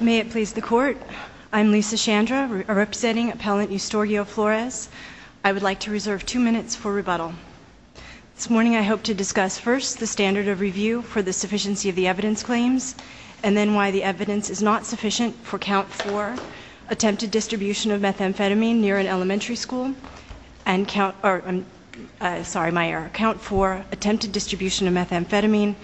May it please the Court, I'm Lisa Chandra, representing Appellant Eustorgio Flores. I would like to reserve two minutes for rebuttal. This morning I hope to discuss first the standard of review for the sufficiency of the evidence claims, and then why the evidence is not sufficient for Count 4, attempted distribution of methamphetamine near an elementary school, and Count 5, distribution of methamphetamine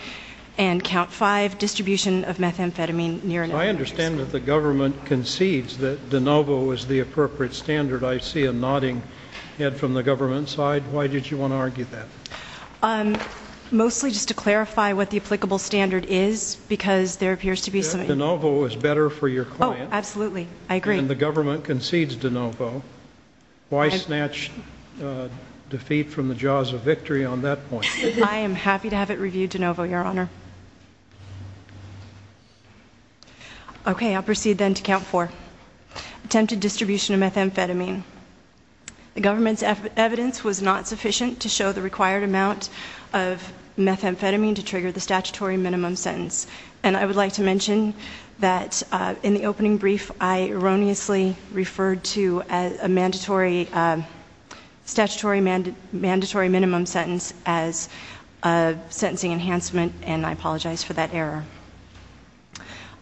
near an elementary school. I understand that the government concedes that de novo is the appropriate standard. I see a nodding head from the government side. Why did you want to argue that? Mostly just to clarify what the applicable standard is, because there appears to be some – De novo is better for your client. Oh, absolutely. I agree. And the government concedes de novo. Why snatch defeat from the jaws of victory on that point? I am happy to have it reviewed de novo, Your Honor. Okay, I'll proceed then to Count 4. Attempted distribution of methamphetamine. The government's evidence was not sufficient to show the required amount of methamphetamine to trigger the statutory minimum sentence. And I would like to mention that in the opening brief, I erroneously referred to a statutory mandatory minimum sentence as a sentencing enhancement, and I apologize for that error.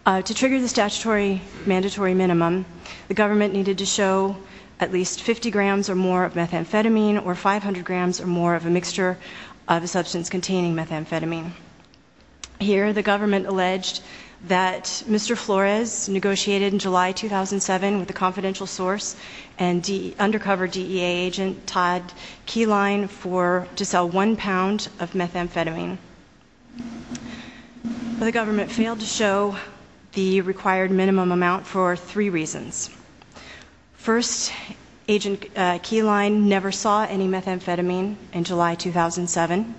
To trigger the statutory mandatory minimum, the government needed to show at least 50 grams or more of methamphetamine, or 500 grams or more of a mixture of a substance containing methamphetamine. Here, the government alleged that Mr. Flores negotiated in July 2007 with a confidential source and undercover DEA agent Todd Keyline to sell one pound of methamphetamine. But the government failed to show the required minimum amount for three reasons. First, agent Keyline never saw any methamphetamine in July 2007, and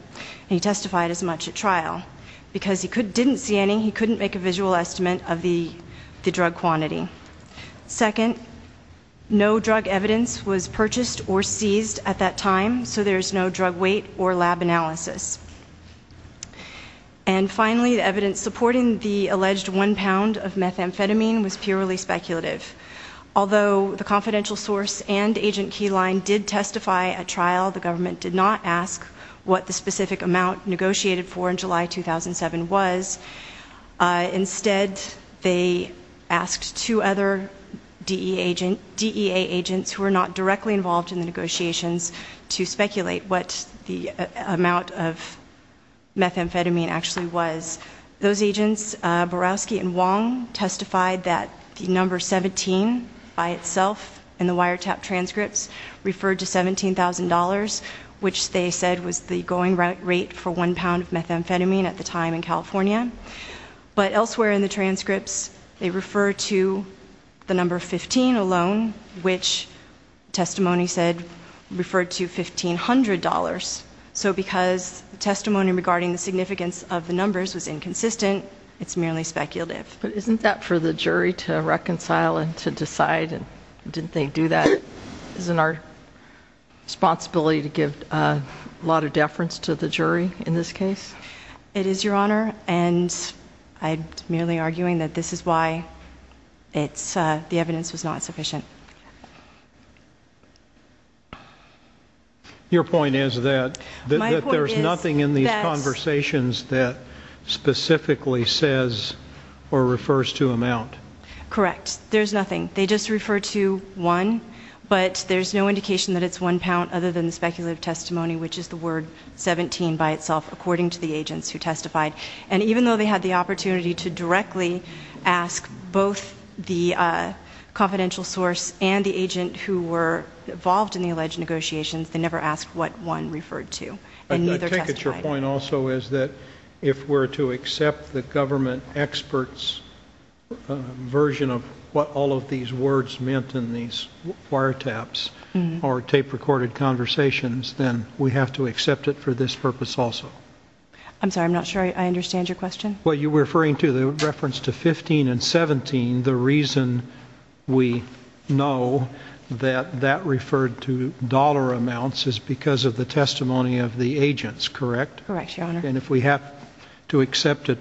he testified as much at trial. Because he didn't see any, he couldn't make a visual estimate of the drug quantity. Second, no drug evidence was purchased or seized at that time, so there's no drug weight or lab analysis. And finally, the evidence supporting the alleged one pound of methamphetamine was purely speculative. Although the confidential source and agent Keyline did testify at trial, the government did not ask what the specific amount negotiated for in July 2007 was. Instead, they asked two other DEA agents who were not directly involved in the negotiations to speculate what the amount of methamphetamine actually was. Those agents, Borowski and Wong, testified that the number 17 by itself in the wiretap transcripts referred to $17,000, which they said was the going rate for one pound of methamphetamine at the time in California. But elsewhere in the transcripts, they refer to the number 15 alone, which testimony said referred to $1,500. So because the testimony regarding the significance of the numbers was inconsistent, it's merely speculative. But isn't that for the jury to reconcile and to decide? Didn't they do that? Isn't our responsibility to give a lot of deference to the jury in this case? It is, Your Honor, and I'm merely arguing that this is why the evidence was not sufficient. Your point is that there's nothing in these conversations that specifically says or refers to amount. Correct. There's nothing. They just refer to one, but there's no indication that it's one pound other than the speculative testimony, which is the word 17 by itself, according to the agents who testified. And even though they had the opportunity to directly ask both the confidential source and the agent who were involved in the alleged negotiations, they never asked what one referred to. And neither testified. I think that your point also is that if we're to accept the government expert's version of what all of these words meant in these wiretaps or tape-recorded conversations, then we have to accept it for this purpose also. I'm sorry, I'm not sure I understand your question. Well, you're referring to the reference to 15 and 17. The reason we know that that referred to dollar amounts is because of the testimony of the agents, correct? Correct, Your Honor. And if we have to accept it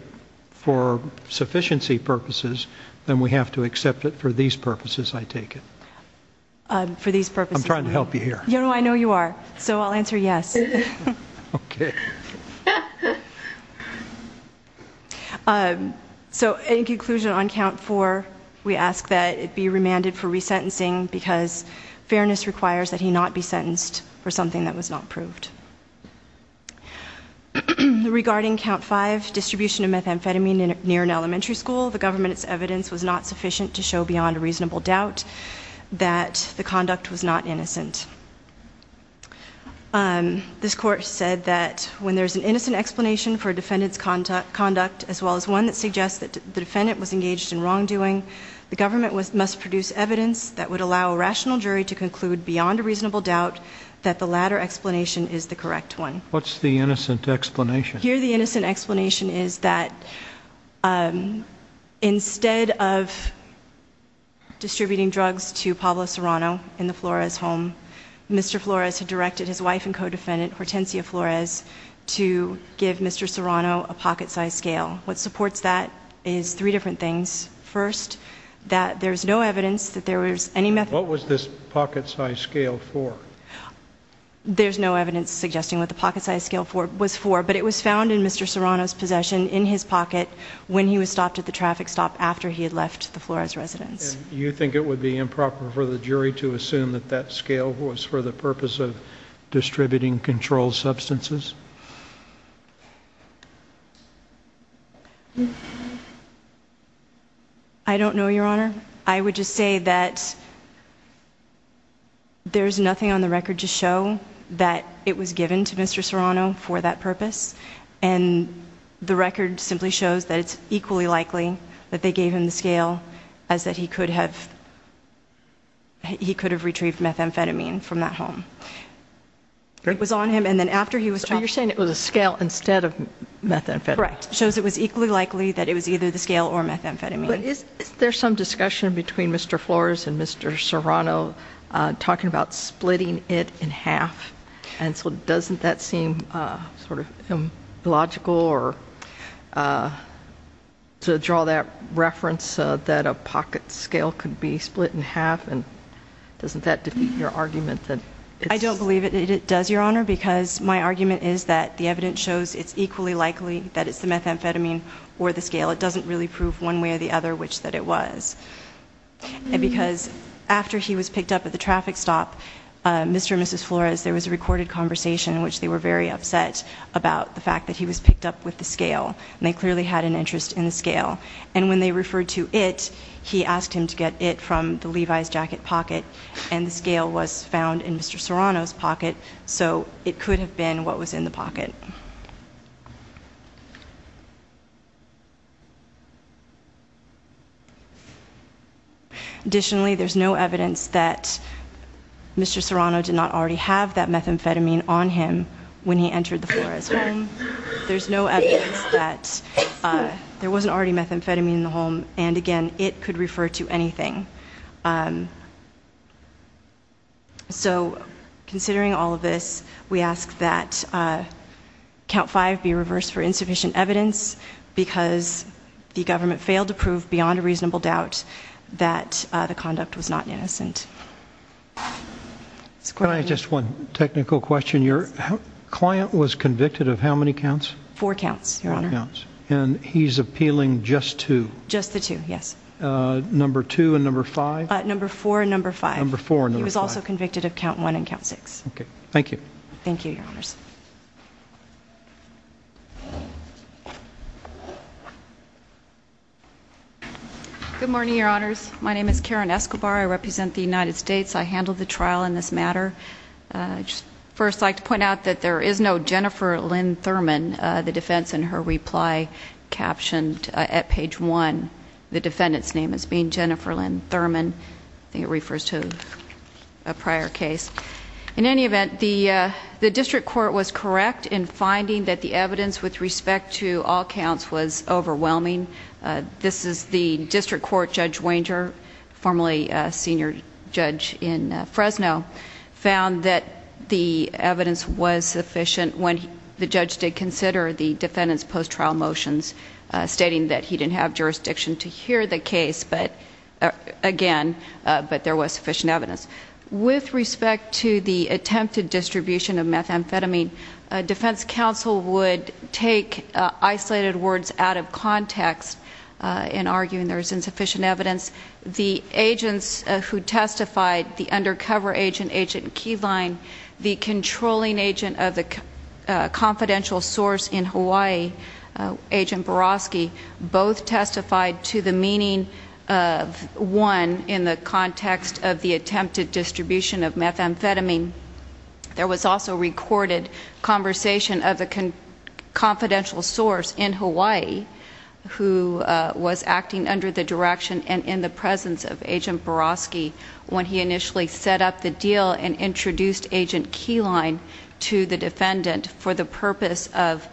for sufficiency purposes, then we have to accept it for these purposes, I take it. For these purposes. I'm trying to help you here. No, no, I know you are, so I'll answer yes. Okay. So in conclusion, on Count 4, we ask that it be remanded for resentencing because fairness requires that he not be sentenced for something that was not proved. Regarding Count 5, distribution of methamphetamine near an elementary school, the government's evidence was not sufficient to show beyond a reasonable doubt that the conduct was not innocent. This Court said that when there's an innocent explanation for a defendant's conduct, as well as one that suggests that the defendant was engaged in wrongdoing, the government must produce evidence that would allow a rational jury to conclude beyond a reasonable doubt that the latter explanation is the correct one. What's the innocent explanation? Here the innocent explanation is that instead of distributing drugs to Pablo Serrano in the Flores home, Mr. Flores had directed his wife and co-defendant, Hortensia Flores, to give Mr. Serrano a pocket-sized scale. What supports that is three different things. First, that there's no evidence that there was any methamphetamine. What was this pocket-sized scale for? There's no evidence suggesting what the pocket-sized scale was for, but it was found in Mr. Serrano's possession in his pocket when he was stopped at the traffic stop after he had left the Flores residence. You think it would be improper for the jury to assume that that scale was for the purpose of distributing controlled substances? I don't know, Your Honor. I would just say that there's nothing on the record to show that it was given to Mr. Serrano for that purpose, and the record simply shows that it's equally likely that they gave him the scale, as that he could have retrieved methamphetamine from that home. It was on him, and then after he was... So you're saying it was a scale instead of methamphetamine? Correct. It shows it was equally likely that it was either the scale or methamphetamine. But isn't there some discussion between Mr. Flores and Mr. Serrano talking about splitting it in half? And so doesn't that seem sort of illogical to draw that reference that a pocket scale could be split in half, and doesn't that defeat your argument that it's... I don't believe it does, Your Honor, because my argument is that the evidence shows it's equally likely that it's the methamphetamine or the scale. It doesn't really prove one way or the other which that it was. Because after he was picked up at the traffic stop, Mr. and Mrs. Flores, there was a recorded conversation in which they were very upset about the fact that he was picked up with the scale, and they clearly had an interest in the scale. And when they referred to it, he asked him to get it from the Levi's jacket pocket, and the scale was found in Mr. Serrano's pocket, so it could have been what was in the pocket. Additionally, there's no evidence that Mr. Serrano did not already have that methamphetamine on him when he entered the Flores home. There's no evidence that there wasn't already methamphetamine in the home, and again, it could refer to anything. So, considering all of this, we ask that Count 5 be reversed for insufficient evidence because the government failed to prove beyond a reasonable doubt that the conduct was not innocent. Can I ask just one technical question? Your client was convicted of how many counts? Four counts, Your Honor. And he's appealing just to? Just the two, yes. Number 2 and number 5? Number 4 and number 5. Number 4 and number 5. He was also convicted of count 1 and count 6. Okay. Thank you. Thank you, Your Honors. Good morning, Your Honors. My name is Karen Escobar. I represent the United States. I handled the trial in this matter. I'd just first like to point out that there is no Jennifer Lynn Thurman. The defense in her reply captioned at page 1 the defendant's name as being Jennifer Lynn Thurman. I think it refers to a prior case. In any event, the district court was correct in finding that the evidence with respect to all counts was overwhelming. This is the district court Judge Wanger, formerly a senior judge in Fresno, found that the evidence was sufficient when the judge did consider the defendant's post-trial motions, stating that he didn't have jurisdiction to hear the case again, but there was sufficient evidence. With respect to the attempted distribution of methamphetamine, defense counsel would take isolated words out of context in arguing there is insufficient evidence. The agents who testified, the undercover agent, Agent Keyline, the controlling agent of the confidential source in Hawaii, Agent Borosky, both testified to the meaning of 1 in the context of the attempted distribution of methamphetamine. There was also recorded conversation of the confidential source in Hawaii, who was acting under the direction and in the presence of Agent Borosky when he initially set up the deal and introduced Agent Keyline to the defendant for the purpose of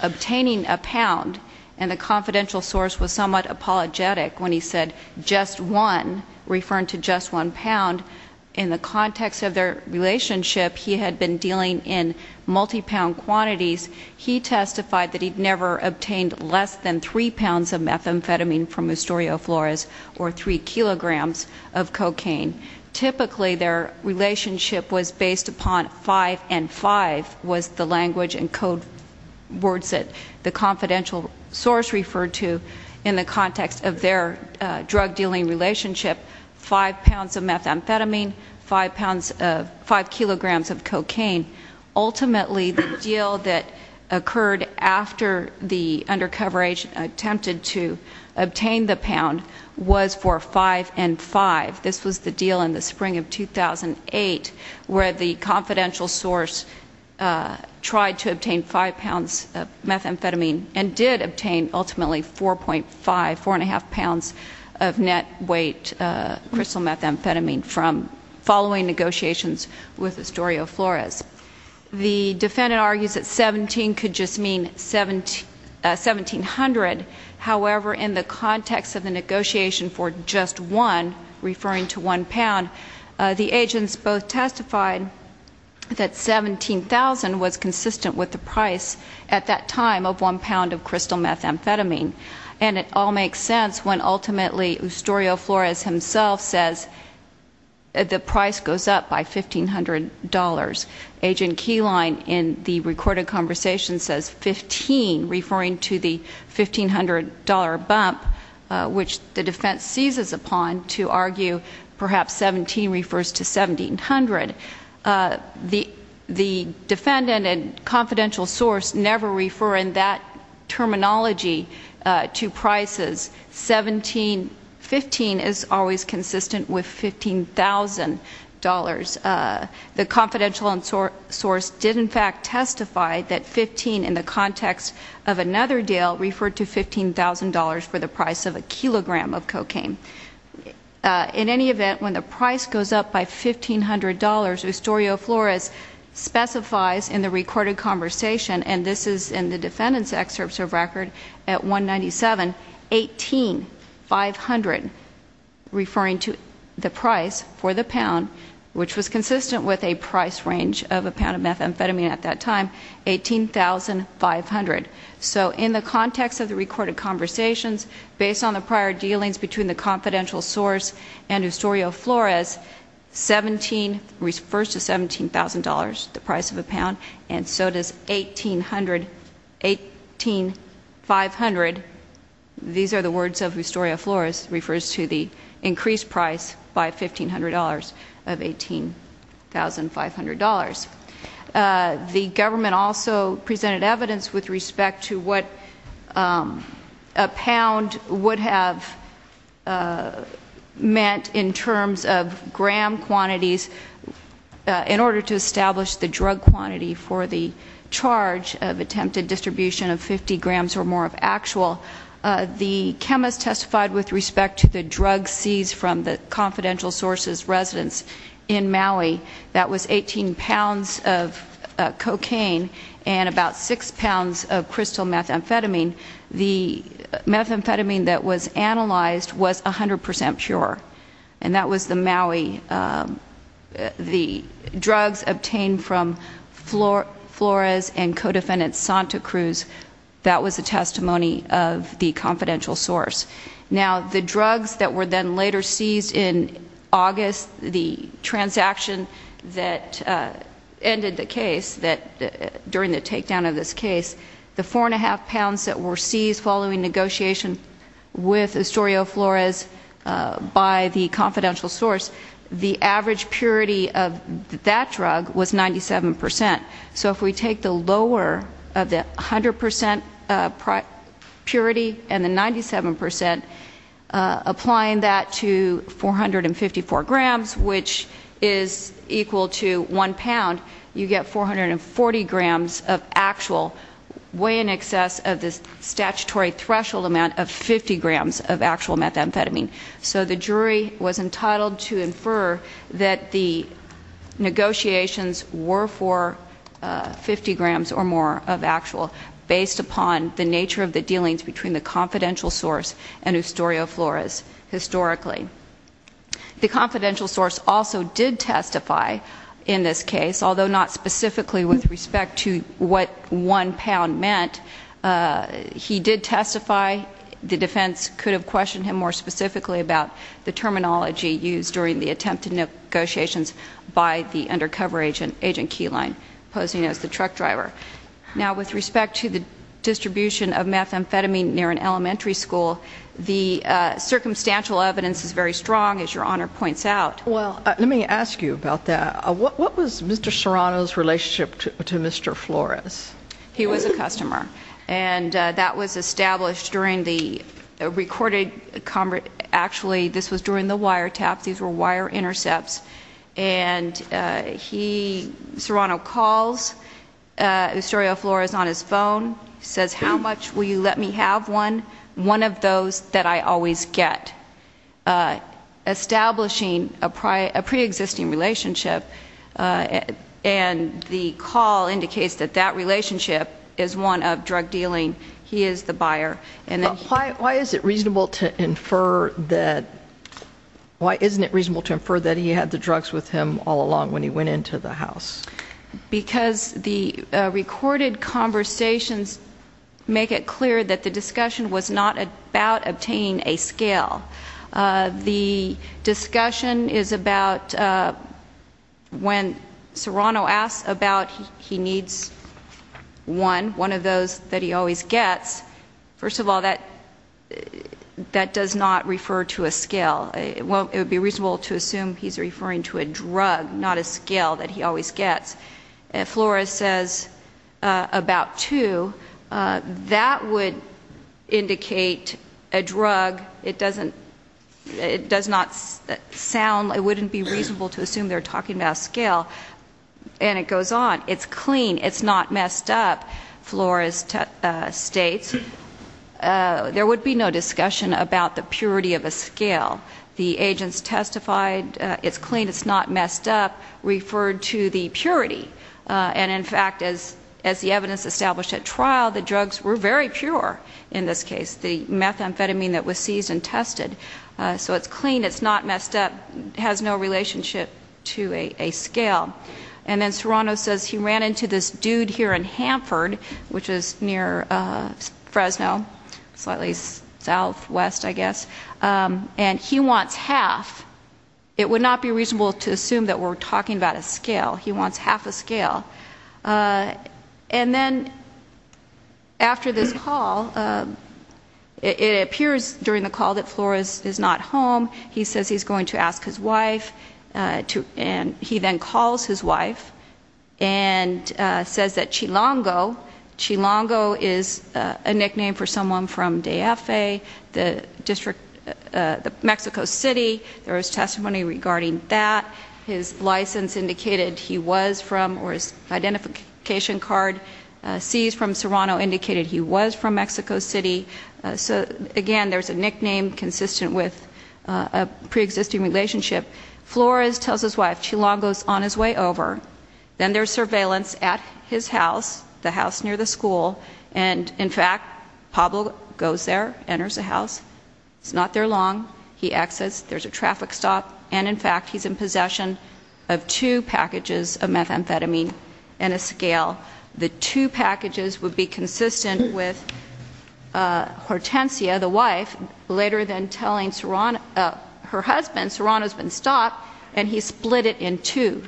obtaining a pound. And the confidential source was somewhat apologetic when he said, referring to just one pound. In the context of their relationship, he had been dealing in multi-pound quantities. He testified that he'd never obtained less than three pounds of methamphetamine from Mustorio Flores, or three kilograms of cocaine. Typically, their relationship was based upon five and five was the language and code words that the confidential source referred to in the context of their drug dealing relationship. Five pounds of methamphetamine, five kilograms of cocaine. Ultimately, the deal that occurred after the undercover agent attempted to obtain the pound was for five and five. This was the deal in the spring of 2008 where the confidential source tried to obtain five pounds of methamphetamine and did obtain, ultimately, 4.5, four and a half pounds of net weight crystal methamphetamine from following negotiations with Mustorio Flores. The defendant argues that 17 could just mean 1,700. However, in the context of the negotiation for just one, referring to one pound, the agents both testified that 17,000 was consistent with the price at that time of one pound of crystal methamphetamine. And it all makes sense when, ultimately, Mustorio Flores himself says the price goes up by $1,500. Agent Keyline, in the recorded conversation, says 15, referring to the $1,500 bump, which the defense seizes upon to argue perhaps 17 refers to 1,700. The defendant and confidential source never refer in that terminology to prices. 15 is always consistent with $15,000. The confidential source did, in fact, testify that 15 in the context of another deal referred to $15,000 for the price of a kilogram of cocaine. In any event, when the price goes up by $1,500, Mustorio Flores specifies in the recorded conversation, and this is in the defendant's excerpts of record at 197, 18, 500 referring to the price for the pound, which was consistent with a price range of a pound of methamphetamine at that time, 18,500. So in the context of the recorded conversations, based on the prior dealings between the confidential source and Mustorio Flores, 17 refers to $17,000, the price of a pound, and so does 18, 500. These are the words of Mustorio Flores, refers to the increased price by $1,500 of $18,500. The government also presented evidence with respect to what a pound would have meant in terms of gram quantities in order to establish the drug quantity for the charge of attempted distribution of 50 grams or more of actual. The chemist testified with respect to the drug seized from the confidential source's residence in Maui that was 18 pounds of cocaine and about 6 pounds of crystal methamphetamine. The methamphetamine that was analyzed was 100% pure, and that was the Maui. The drugs obtained from Flores and co-defendant Santa Cruz, that was the testimony of the confidential source. Now, the drugs that were then later seized in August, the transaction that ended the case during the takedown of this case, the 4.5 pounds that were seized following negotiation with Mustorio Flores by the confidential source, the average purity of that drug was 97%. So if we take the lower of the 100% purity and the 97%, applying that to 454 grams, which is equal to 1 pound, you get 440 grams of actual, way in excess of the statutory threshold amount of 50 grams of actual methamphetamine. So the jury was entitled to infer that the negotiations were for 50 grams or more of actual based upon the nature of the dealings between the confidential source and Mustorio Flores historically. The confidential source also did testify in this case, although not specifically with respect to what 1 pound meant. He did testify. The defense could have questioned him more specifically about the terminology used during the attempted negotiations by the undercover agent, Agent Keyline, posing as the truck driver. Now, with respect to the distribution of methamphetamine near an elementary school, the circumstantial evidence is very strong, as Your Honor points out. Well, let me ask you about that. What was Mr. Serrano's relationship to Mr. Flores? He was a customer, and that was established during the recorded conversation. Actually, this was during the wiretaps. These were wire intercepts, and Serrano calls Mustorio Flores on his phone, says, how much will you let me have one? One of those that I always get. Establishing a preexisting relationship, and the call indicates that that relationship is one of drug dealing. He is the buyer. Why isn't it reasonable to infer that he had the drugs with him all along when he went into the house? Because the recorded conversations make it clear that the discussion was not about obtaining a scale. The discussion is about when Serrano asks about he needs one, one of those that he always gets, first of all, that does not refer to a scale. It would be reasonable to assume he's referring to a drug, not a scale that he always gets. Flores says about two. That would indicate a drug. It does not sound, it wouldn't be reasonable to assume they're talking about a scale. And it goes on. It's clean. It's not messed up, Flores states. There would be no discussion about the purity of a scale. The agents testified, it's clean, it's not messed up, referred to the purity. And in fact, as the evidence established at trial, the drugs were very pure in this case. The methamphetamine that was seized and tested. So it's clean, it's not messed up, has no relationship to a scale. And then Serrano says he ran into this dude here in Hanford, which is near Fresno, slightly southwest, I guess, and he wants half. It would not be reasonable to assume that we're talking about a scale. He wants half a scale. And then after this call, it appears during the call that Flores is not home. He says he's going to ask his wife. And he then calls his wife and says that Chilango, Chilango is a nickname for someone from Deafe, the Mexico City. There was testimony regarding that. His license indicated he was from, or his identification card seized from Serrano indicated he was from Mexico City. Again, there's a nickname consistent with a preexisting relationship. Flores tells his wife, Chilango's on his way over. Then there's surveillance at his house, the house near the school. And in fact, Pablo goes there, enters the house. He's not there long. He exits. There's a traffic stop. And in fact, he's in possession of two packages of methamphetamine and a scale. The two packages would be consistent with Hortensia, the wife, later then telling Serrano, her husband, Serrano's been stopped and he split it in two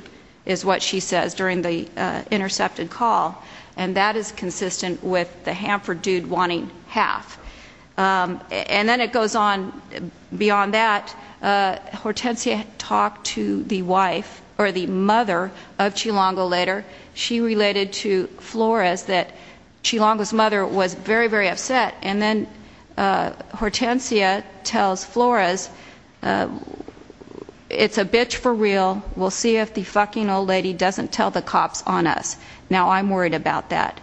is what she says during the intercepted call. And that is consistent with the Hanford dude wanting half. And then it goes on beyond that. Hortensia talked to the wife or the mother of Chilango later. She related to Flores that Chilango's mother was very, very upset. And then Hortensia tells Flores, it's a bitch for real. We'll see if the fucking old lady doesn't tell the cops on us. Now I'm worried about that.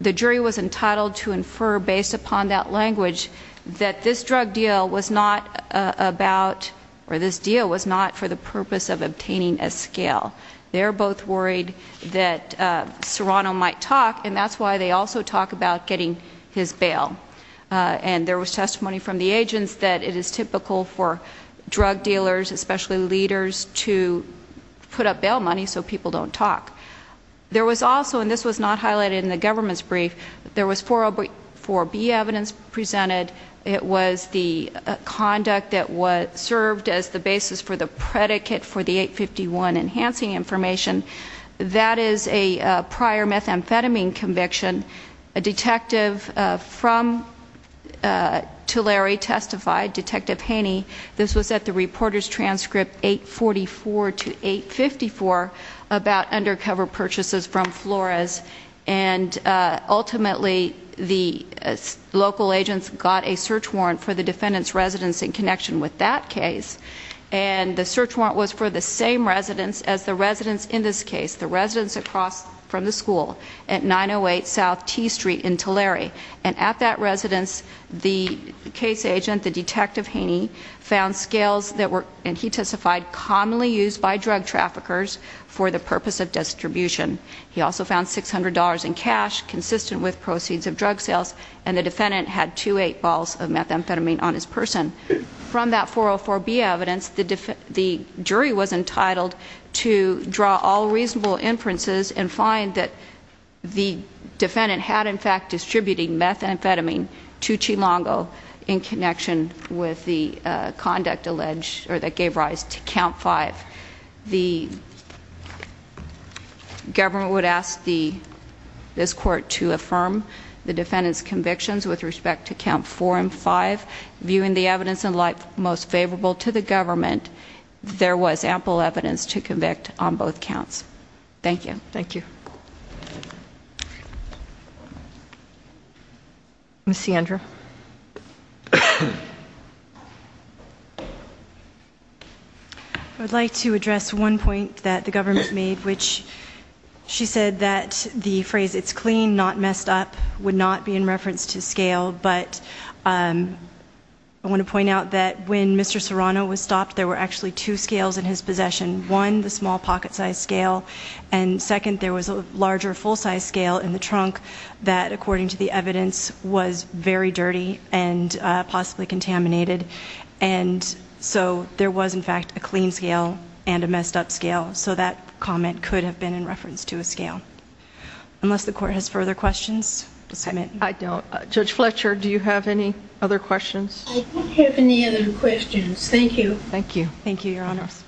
The jury was entitled to infer based upon that language that this drug deal was not about, or this deal was not for the purpose of obtaining a scale. They're both worried that Serrano might talk, and that's why they also talk about getting his bail. And there was testimony from the agents that it is typical for drug dealers, especially leaders, to put up bail money so people don't talk. There was also, and this was not highlighted in the government's brief, there was 404B evidence presented. It was the conduct that served as the basis for the predicate for the 851 enhancing information. That is a prior methamphetamine conviction. A detective from Tulare testified, Detective Haney. This was at the reporter's transcript 844 to 854 about undercover purchases from Flores. And ultimately the local agents got a search warrant for the defendant's residence in connection with that case. And the search warrant was for the same residence as the residence in this case, the residence across from the school at 908 South T Street in Tulare. And at that residence, the case agent, the Detective Haney, found scales that were, and he testified, commonly used by drug traffickers for the purpose of distribution. He also found $600 in cash, consistent with proceeds of drug sales, and the defendant had two 8-balls of methamphetamine on his person. From that 404B evidence, the jury was entitled to draw all reasonable inferences and find that the defendant had, in fact, distributed methamphetamine to Chilongo in connection with the conduct alleged, or that gave rise to Count 5. The government would ask this court to affirm the defendant's convictions with respect to Count 4 and 5. Viewing the evidence in light most favorable to the government, there was ample evidence to convict on both counts. Thank you. Thank you. Ms. Sandra. I would like to address one point that the government made, which she said that the phrase, it's clean, not messed up, would not be in reference to scale. But I want to point out that when Mr. Serrano was stopped, there were actually two scales in his possession. One, the small pocket-sized scale, and second, there was a larger full-sized scale in the trunk that, according to the evidence, was very dirty and possibly contaminated. And so there was, in fact, a clean scale and a messed up scale, so that comment could have been in reference to a scale. Unless the court has further questions, I'll submit. I don't. Judge Fletcher, do you have any other questions? I don't have any other questions. Thank you. Thank you. Thank you, Your Honors.